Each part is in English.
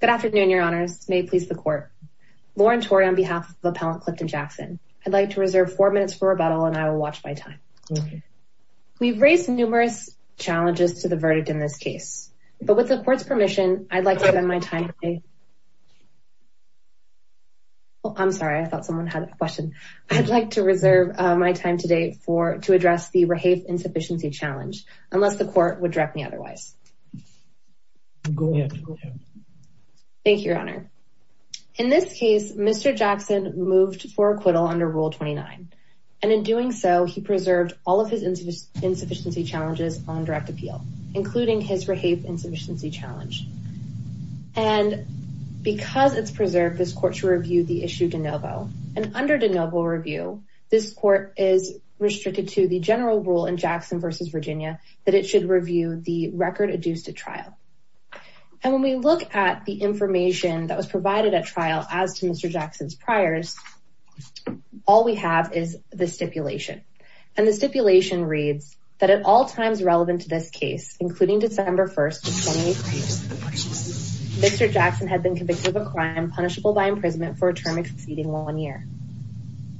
Good afternoon, your honors. May it please the court. Lauren Tory on behalf of Appellant Clifton Jackson, I'd like to reserve four minutes for rebuttal and I will watch my time. We've raised numerous challenges to the verdict in this case, but with the court's permission, I'd like to spend my time today. I'm sorry, I thought someone had a question. I'd like to reserve my time today to address the Rahafe Insufficiency Challenge, unless the court would direct me otherwise. Thank you, your honor. In this case, Mr. Jackson moved for acquittal under Rule 29, and in doing so, he preserved all of his insufficiency challenges on direct appeal, including his Rahafe Insufficiency Challenge. And because it's preserved, this court should review the issue de novo. And under de novo review, this court is restricted to the general rule in Jackson v. Virginia that it should review the record adduced at trial. And when we look at the information that was provided at trial as to Mr. Jackson's priors, all we have is the stipulation. And the stipulation reads that at all times relevant to this case, including December 1st, Mr. Jackson had been convicted of a crime punishable by imprisonment for a term exceeding one year.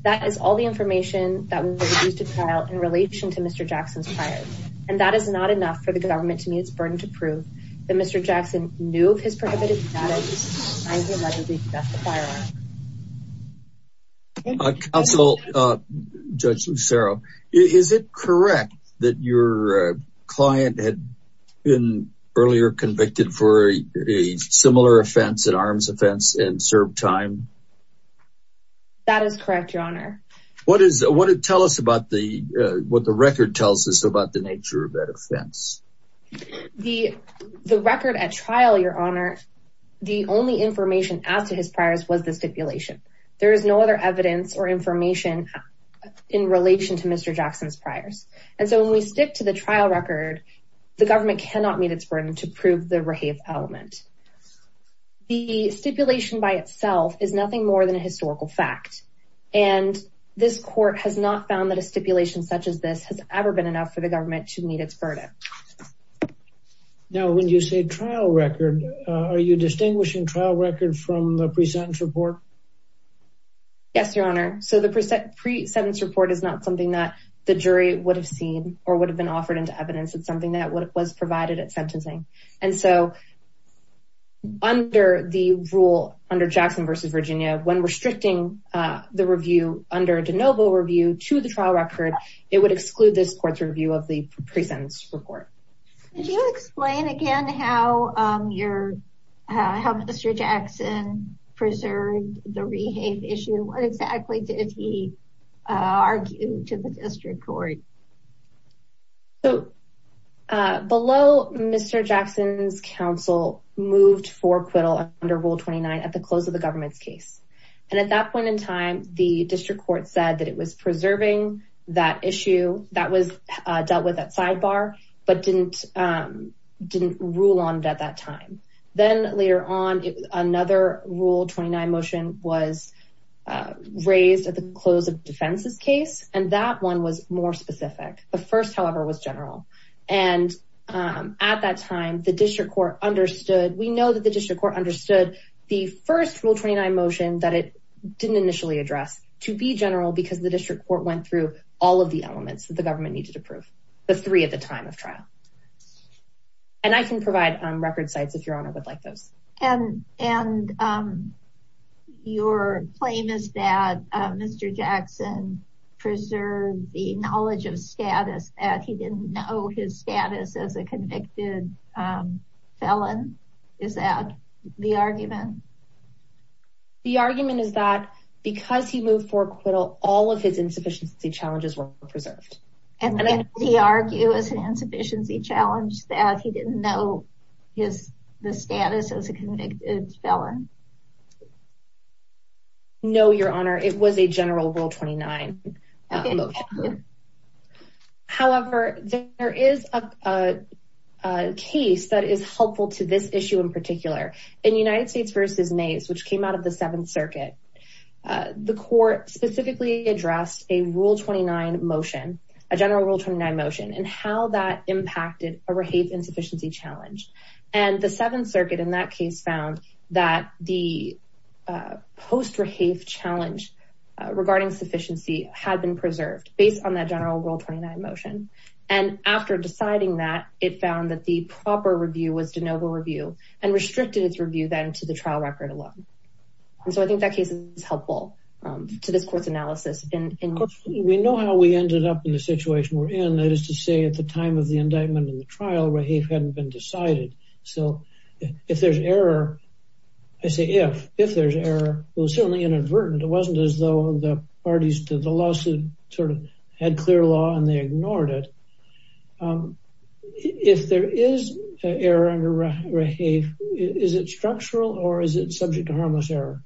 That is all the information that was adduced at trial in relation to Mr. Jackson's priors. And that is not enough for the government to meet its burden to prove that Mr. Jackson knew of his prohibited practice, and he allegedly set the fire alarm. Counsel, Judge Lucero, is it correct that your client had been earlier convicted for a similar offense, an arms offense, and served time? That is correct, your honor. What does it tell us about what the record tells us about the nature of that offense? The record at trial, your honor, the only information added to his priors was the stipulation. There is no other evidence or information in relation to Mr. Jackson's priors. And so when we stick to the trial record, the government cannot meet its burden to prove the rape element. The stipulation by itself is nothing more than a historical fact. And this court has not found that a stipulation such as this has ever been enough for the government to meet its burden. Now, when you say trial record, are you distinguishing trial record from the present report? Yes, your honor. So the present report is not something that the jury would have seen or would have been offered into evidence. It's something that was provided at sentencing. And so under the rule, under Jackson v. Virginia, when restricting the review under de novo review to the trial record, it would exclude this court's review of the present report. Could you explain again how your, how Mr. Jackson preserved the rehab issue? And what exactly did he argue to the district court? So below Mr. Jackson's counsel moved for acquittal under rule 29 at the close of the government's case. And at that point in time, the district court said that it was preserving that issue that was dealt with at sidebar, but didn't rule on it at that time. Then later on, another rule 29 motion was raised at the close of defense's case. And that one was more specific. The first, however, was general. And at that time, the district court understood, we know that the district court understood the first rule 29 motion that it didn't initially address to be general because the district court went through all of elements that the government needed to prove. The three at the time of trial. And I can provide record sites if your honor would like those. And your claim is that Mr. Jackson preserved the knowledge of status that he didn't know his status as a convicted felon. Is that the argument? The argument is that because he moved for acquittal, all of his insufficiency challenges were preserved. And then he argue as an insufficiency challenge that he didn't know his status as a convicted felon. No, your honor, it was a general rule 29. However, there is a case that is helpful to this issue in particular in United States versus which came out of the seventh circuit. The court specifically addressed a rule 29 motion, a general rule 29 motion and how that impacted a rehave insufficiency challenge. And the seventh circuit in that case found that the post-rehave challenge regarding sufficiency had been preserved based on that general rule 29 motion. And after deciding that it found that the proper then to the trial record alone. And so I think that case is helpful to this court's analysis. We know how we ended up in the situation we're in. That is to say at the time of the indictment and the trial rehave hadn't been decided. So if there's error, I say if, if there's error, it was certainly inadvertent. It wasn't as though the parties to the lawsuit sort of had clear law and they ignored it. If there is error under rehave, is it structural or is it subject to harmless error?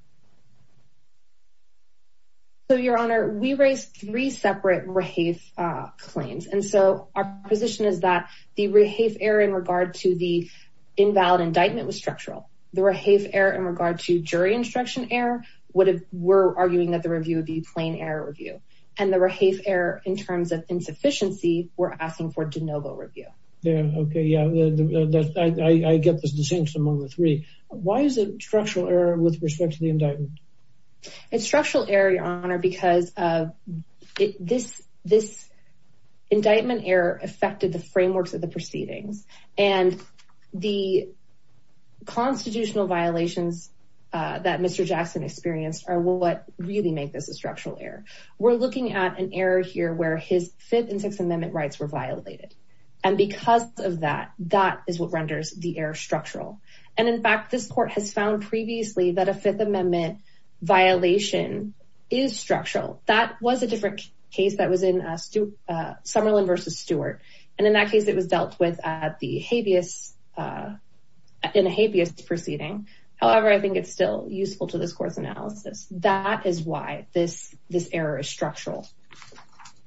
So your honor, we raised three separate rehave claims. And so our position is that the rehave error in regard to the invalid indictment was structural. The rehave error in regard to jury instruction error would have, we're arguing that the review would be plain error review. And the rehave error in terms of insufficiency, we're asking for de novo review. Yeah. Okay. Yeah. I, I get this distinction among the three. Why is it structural error with respect to the indictment? It's structural error, your honor, because this, this indictment error affected the frameworks of the proceedings and the constitutional violations that Mr. Jackson experienced are what really make this a structural error. So we're looking at an error here where his fifth and sixth amendment rights were violated. And because of that, that is what renders the air structural. And in fact, this court has found previously that a fifth amendment violation is structural. That was a different case that was in a Stuart Summerlin versus Stuart. And in that case, it was dealt with at the habeas in a habeas proceeding. However, I think it's still useful to this is structural.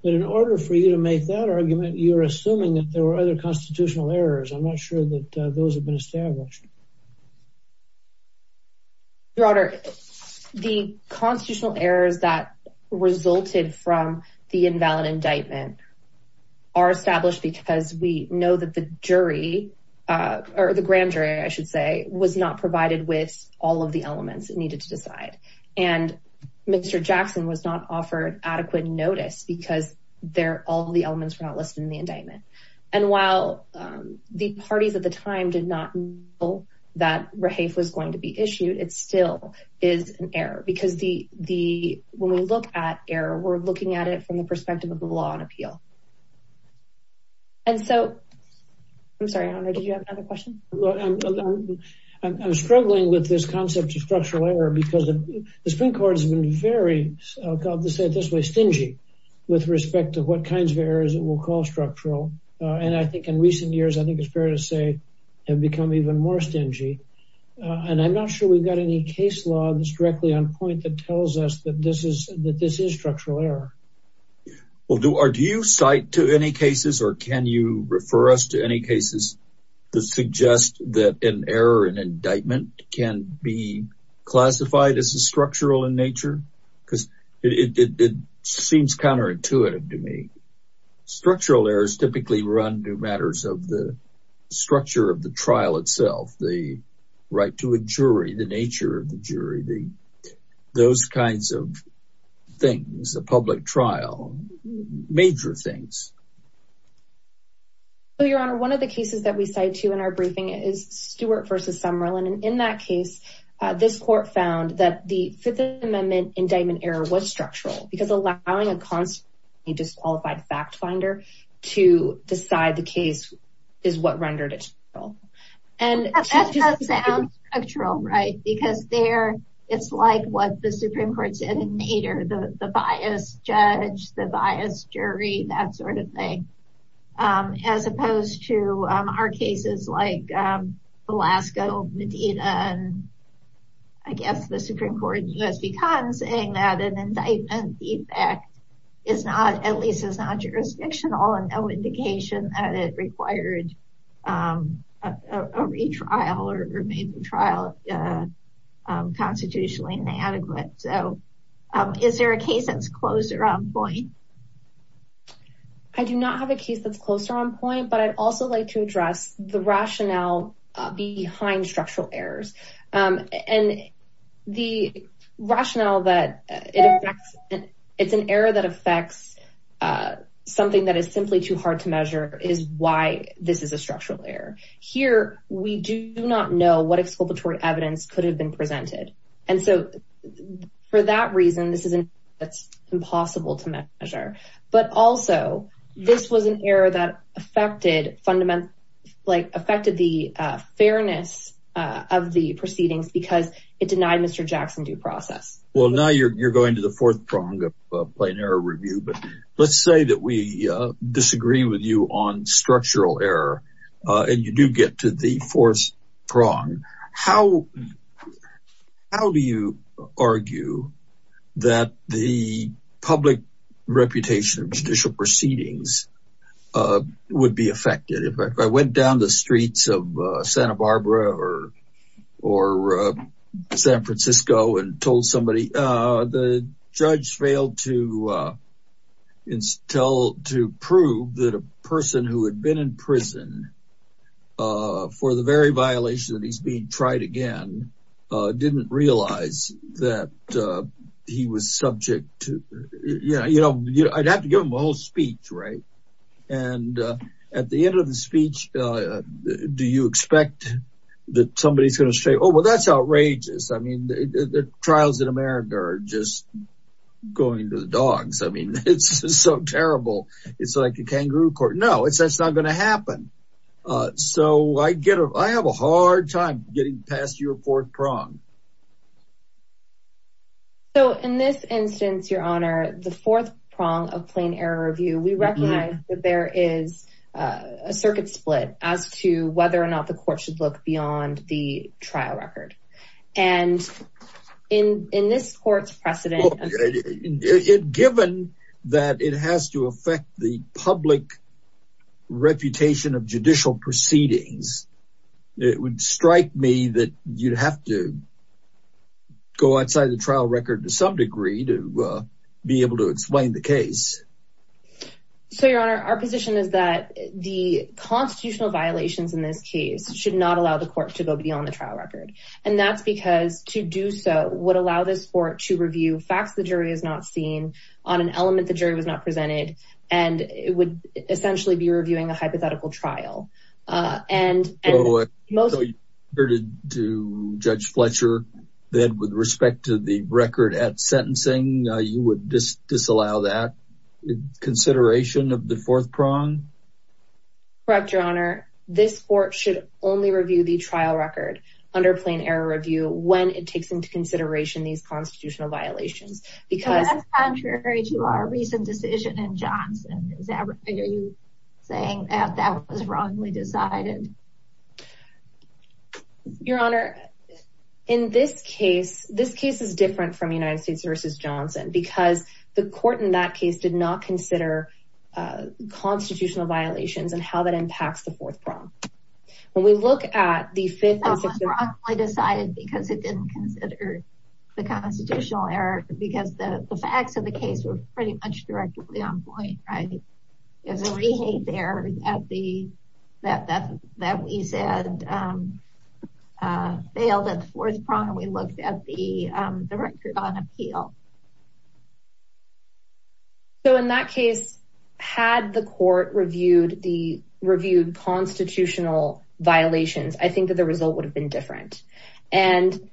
But in order for you to make that argument, you're assuming that there were other constitutional errors. I'm not sure that those have been established. Your honor, the constitutional errors that resulted from the invalid indictment are established because we know that the jury or the grand jury, I should say, was not provided with all of the elements it needed to decide. And Mr. Jackson was not offered adequate notice because they're all of the elements were not listed in the indictment. And while the parties at the time did not know that Rahafe was going to be issued, it still is an error because the, the, when we look at error, we're looking at it from the perspective of the law and appeal. And so, I'm sorry, I don't know. Did you have another question? I'm struggling with this concept of structural error because the Supreme Court has been very, I'll have to say it this way, stingy with respect to what kinds of errors it will call structural. And I think in recent years, I think it's fair to say have become even more stingy. And I'm not sure we've got any case law that's directly on point that tells us that this is that this is cite to any cases or can you refer us to any cases that suggest that an error in indictment can be classified as a structural in nature? Because it seems counterintuitive to me. Structural errors typically run to matters of the structure of the trial itself, the right to a jury, the nature of the jury, the, those kinds of things, the public trial, major things. Well, Your Honor, one of the cases that we cite to in our briefing is Stewart versus Summerlin. And in that case, this court found that the Fifth Amendment indictment error was structural because allowing a constantly disqualified fact finder to decide the case is what rendered it. And that sounds structural, right? Because there, it's like what the Supreme Court said in Nader, the bias judge, the bias jury, that sort of thing. As opposed to our cases like Alaska, Medina, and I guess the Supreme Court in U.S. v. Conn, saying that an indictment defect is not, at least is not jurisdictional and no indication that it required a retrial or maybe trial constitutionally inadequate. So is there a case that's closer on point? I do not have a case that's closer on point, but I'd also like to address the rationale behind structural errors. And the rationale that it affects, it's an error that affects something that is simply too hard to measure is why this is a structural error. Here, we do not know what exculpatory evidence could have been presented. And so for that reason, this is an error that affected the fairness of the proceedings because it denied Mr. Jackson due process. Well, now you're going to the fourth prong of plain error review. But let's say that we disagree with you on structural error, and you do get to the fourth prong. How do you public reputation of judicial proceedings would be affected? If I went down the streets of Santa Barbara or San Francisco and told somebody, the judge failed to prove that a person who had been in prison for the very violation that he's being tried again, didn't realize that he was subject to, you know, you know, I'd have to give him a whole speech, right? And at the end of the speech, do you expect that somebody is going to say, Oh, well, that's outrageous. I mean, the trials in America are just going to the dogs. I mean, it's so terrible. It's like a kangaroo court. No, it's that's not going to happen. So I get I have a hard time getting past your fourth prong. So in this instance, Your Honor, the fourth prong of plain error review, we recognize that there is a circuit split as to whether or not the court should look beyond the trial record. And in in precedent, given that it has to affect the public reputation of judicial proceedings, it would strike me that you'd have to go outside the trial record to some degree to be able to explain the case. So Your Honor, our position is that the constitutional violations in this case should not allow the court to go beyond the trial record. And that's because to do so would allow this for it to review facts. The jury is not seen on an element. The jury was not presented, and it would essentially be reviewing a hypothetical trial. And most heard it to Judge Fletcher that with respect to the record at sentencing, you would disallow that consideration of the fourth prong. Correct, Your Honor. This court should only review the trial record under plain error review when it takes into consideration these constitutional violations. Because that's contrary to our recent decision in Johnson. Are you saying that that was wrongly decided? Your Honor, in this case, this case is different from United States versus Johnson, because the court in that case did not consider constitutional violations and how that impacts the fourth prong. When we look at the fifth and sixth... It was wrongly decided because it didn't consider the constitutional error because the facts of the case were pretty much directly on point, right? There's a rehate there that we said failed at the fourth prong. We looked at the constitutional violations. I think that the result would have been different. And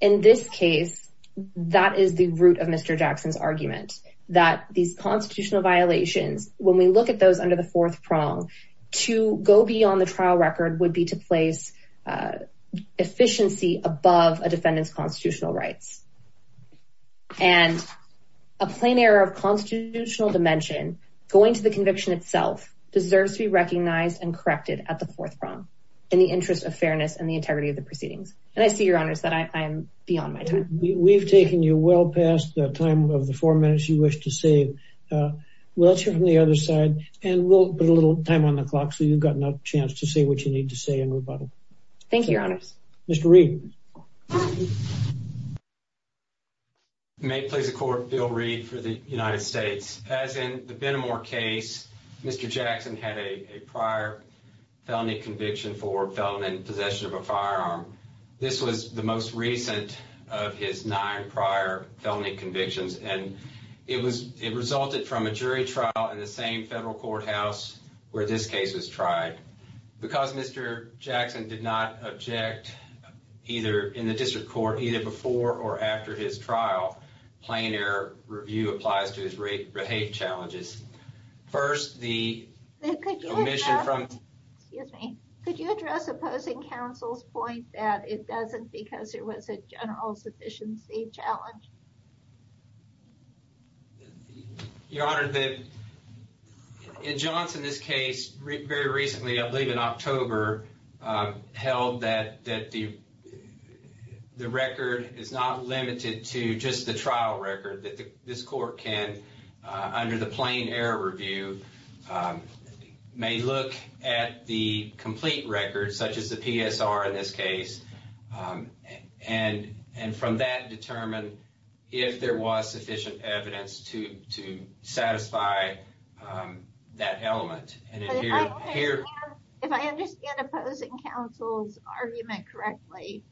in this case, that is the root of Mr. Jackson's argument that these constitutional violations, when we look at those under the fourth prong, to go beyond the trial record would be to place efficiency above a defendant's constitutional rights. And a plain error of constitutional dimension going to the conviction itself deserves to be corrected at the fourth prong in the interest of fairness and the integrity of the proceedings. And I see, Your Honors, that I'm beyond my time. We've taken you well past the time of the four minutes you wish to save. Let's hear from the other side, and we'll put a little time on the clock so you've got enough chance to say what you need to say in rebuttal. Thank you, Your Honors. Mr. Reid. May it please the Court, Bill Reid for the United States. As in the Benamor case, Mr. Jackson had a prior felony conviction for felon in possession of a firearm. This was the most recent of his nine prior felony convictions, and it resulted from a jury trial in the same federal courthouse where this case was tried. Because Mr. Jackson did not object either in the district court, either before or after his trial, plain error review applies to his rape challenges. First, the omission from... Excuse me. Could you address opposing counsel's point that it doesn't because there was a general sufficiency challenge? Your Honor, in Johnson's case, very recently, I believe in October, held that the record is not limited to just the trial record that this court can, under the plain error review, may look at the complete record, such as the PSR in this case, and from that determine if there was sufficient evidence to satisfy that element. If I understand opposing counsel's argument correctly,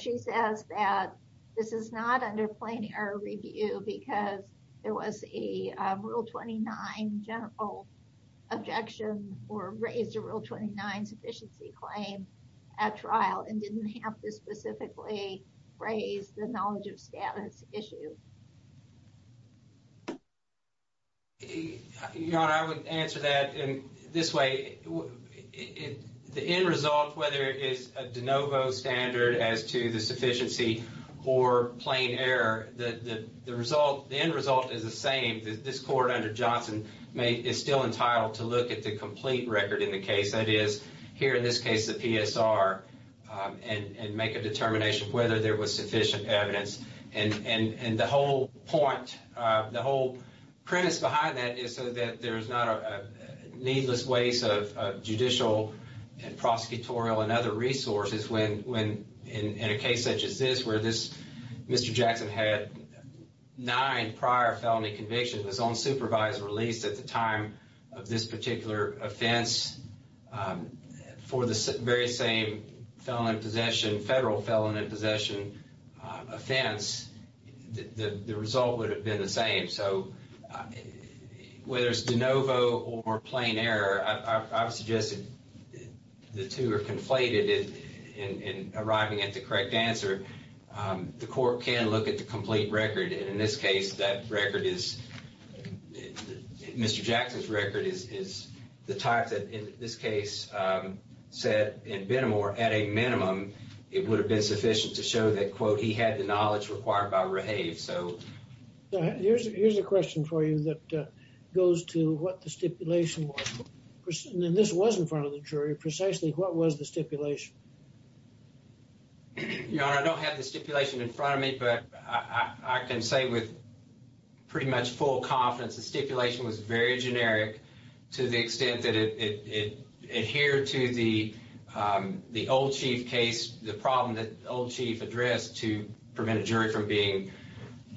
she says that this is not under plain error review because there was a Rule 29 general objection or raised a Rule 29 sufficiency claim at trial and didn't have to specifically raise the knowledge of status issue. Your Honor, I would answer that in this way. The end result, whether it is a de novo standard as to the sufficiency or plain error, the end result is the same. This court under Johnson is still entitled to look at the complete record in the case, that is, here in this case, the PSR, and make a determination of whether there was sufficient evidence. The whole premise behind that is so that there's not a needless waste of judicial and prosecutorial and other resources in a case such as this, where Mr. Jackson had nine prior felony convictions, his own supervised release at the time of this particular offense, for the very same federal felon in possession offense, the result would have been the same. So whether it's de novo or plain error, I would suggest that the two are conflated in arriving at the correct answer. The court can look at the complete record, and in this case, that record is, Mr. Jackson's record is the type that in this case said in Benamor, at a minimum, it would have been sufficient to show that, quote, he had the knowledge required by Rahave, so. Here's a question for you that goes to what stipulation was, and this was in front of the jury, precisely what was the stipulation? Your Honor, I don't have the stipulation in front of me, but I can say with pretty much full confidence the stipulation was very generic to the extent that it adhered to the old chief case, the problem that the old chief addressed to prevent a jury from being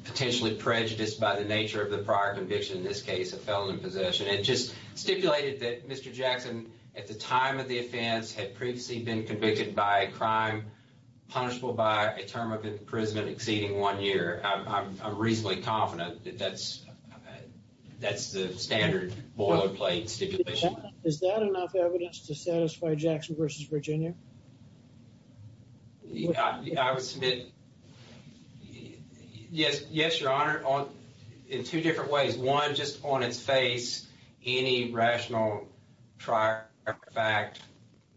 potentially prejudiced by the nature of the prior conviction, in this case, a felon in possession, and just stipulated that Mr. Jackson, at the time of the offense, had previously been convicted by a crime punishable by a term of imprisonment exceeding one year. I'm reasonably confident that that's that's the standard boilerplate stipulation. Is that enough evidence to satisfy Jackson versus Virginia? I would submit, yes, yes, Your Honor, in two different ways. One, just on its face, any rational fact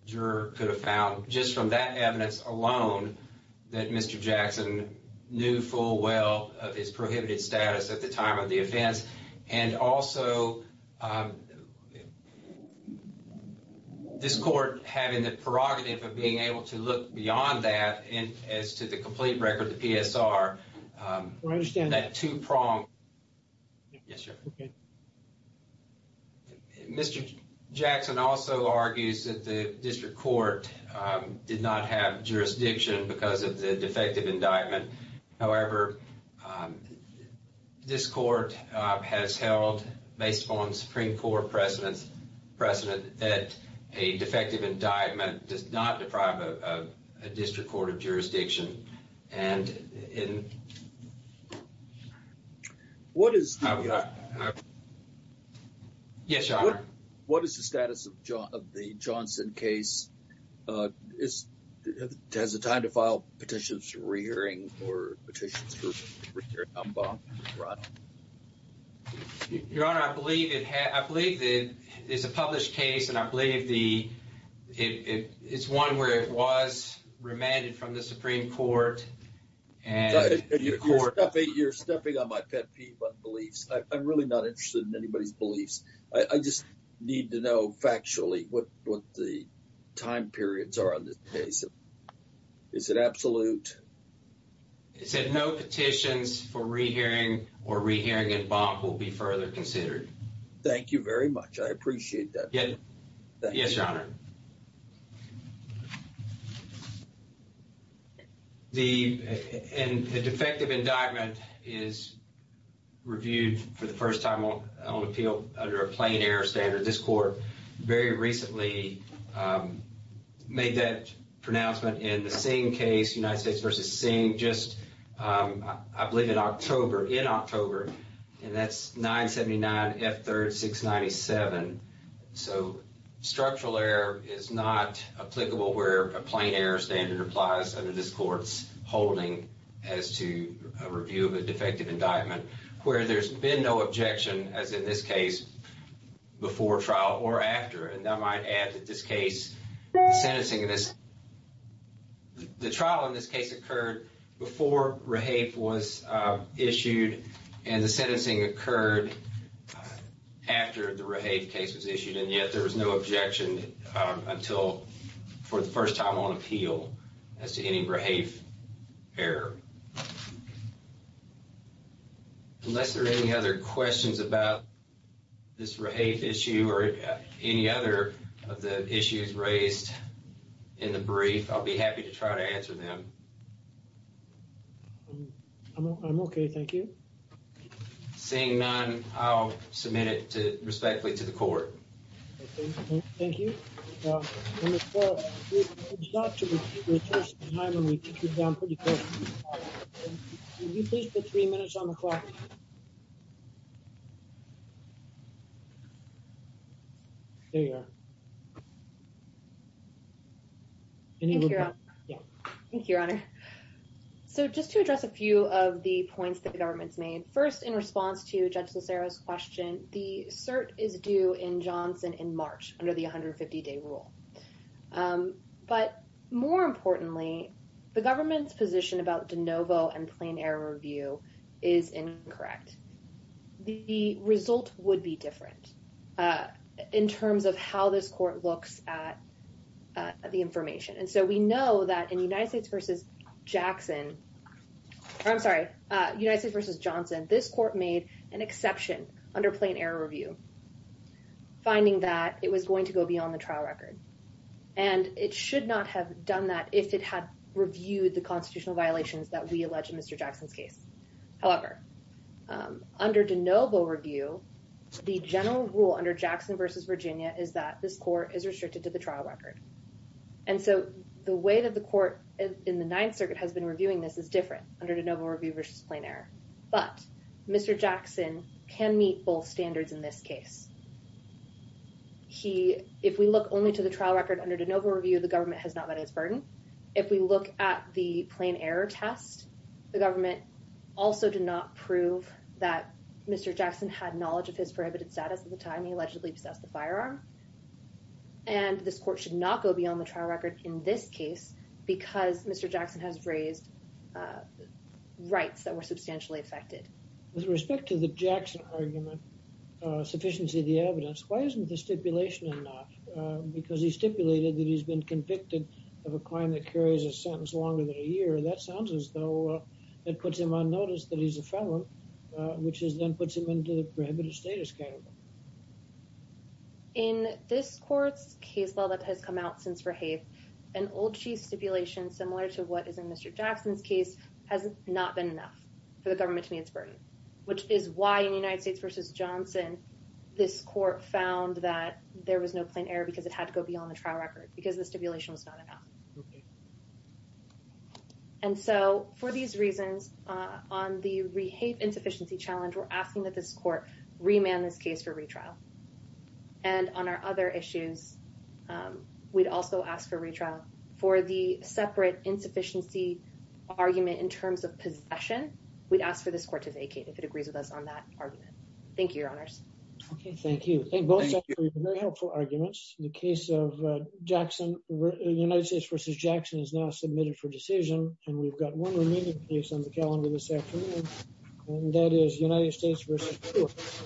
juror could have found just from that evidence alone that Mr. Jackson knew full well of his prohibited status at the time of the offense, and also this court having the prerogative of being able to look beyond that, and as to the complete record, the PSR, that two-pronged... Mr. Jackson also argues that the district court did not have jurisdiction because of the defective indictment. However, this court has held, based upon Supreme Court precedent, that a defective indictment does not deprive a district court of jurisdiction. What is the status of the Johnson case? Does it have the time to file petitions for re-hearing or petitions for re-hearing? Your Honor, I believe it is a published case, and I believe it's one where it was remanded from the Supreme Court. You're stepping on my pet peeve of beliefs. I'm really not sure what the time periods are on this case. Is it absolute? It said no petitions for re-hearing or re-hearing in bond will be further considered. Thank you very much. I appreciate that. Yes, Your Honor. And the defective indictment is reviewed for the first time on appeal under a plain error standard. This court very recently made that pronouncement in the Singh case, United States v. Singh, just, I believe, in October. And that's 979 F. 3rd 697. So structural error is not applicable where a plain error standard applies under this court's holding as to a review of a trial or after. And I might add that this case, the sentencing in this, the trial in this case occurred before Rahaf was issued and the sentencing occurred after the Rahaf case was issued. And yet there was no objection until, for the first time on appeal, as to any Rahaf error. Unless there are any other questions about this Rahaf issue or any other of the issues raised in the brief, I'll be happy to try to answer them. I'm okay. Thank you. Seeing none, I'll submit it respectfully to the court. Okay. Thank you. So just to address a few of the points that the government's made. First, in response to the Rahaf case, the government's position about de novo and plain error review is incorrect. The result would be different in terms of how this court looks at the information. And so we know that in United States v. Johnson, this court made an exception under plain error review, finding that it was going to go beyond the trial record. And it should not have done that if it had reviewed the constitutional violations that we allege in Mr. Jackson's case. However, under de novo review, the general rule under Jackson v. Virginia is that this court is restricted to the trial record. And so the way that the court in the Ninth Circuit has been reviewing this is different under de novo review v. plain error. But Mr. Jackson can meet both standards in this case. If we look only to the trial record under de novo review, the government has not met its burden. If we look at the plain error test, the government also did not prove that Mr. Jackson had knowledge of his prohibited status at the time he allegedly possessed the firearm. And this court should not go beyond the trial record in this case because Mr. Jackson has raised rights that were substantially affected. With respect to the Jackson argument, sufficiency of the evidence, why isn't the stipulation enough? Because he stipulated that he's been convicted of a crime that carries a sentence longer than a year. That sounds as though it puts him on notice that he's a felon, which then puts him into the prohibited status category. In this court's case law that has come out since Verhaef, an old chief stipulation similar to what which is why in the United States versus Johnson, this court found that there was no plain error because it had to go beyond the trial record because the stipulation was not enough. And so for these reasons, on the Verhaef insufficiency challenge, we're asking that this court remand this case for retrial. And on our other issues, we'd also ask for retrial. For the separate insufficiency argument in terms of possession, we'd ask for this court to vacate if it agrees with us on that argument. Thank you, Your Honors. Okay, thank you. Thank you. Very helpful arguments. The case of Jackson, United States versus Jackson is now submitted for decision. And we've got one remaining case on the calendar this afternoon. And that is United States versus.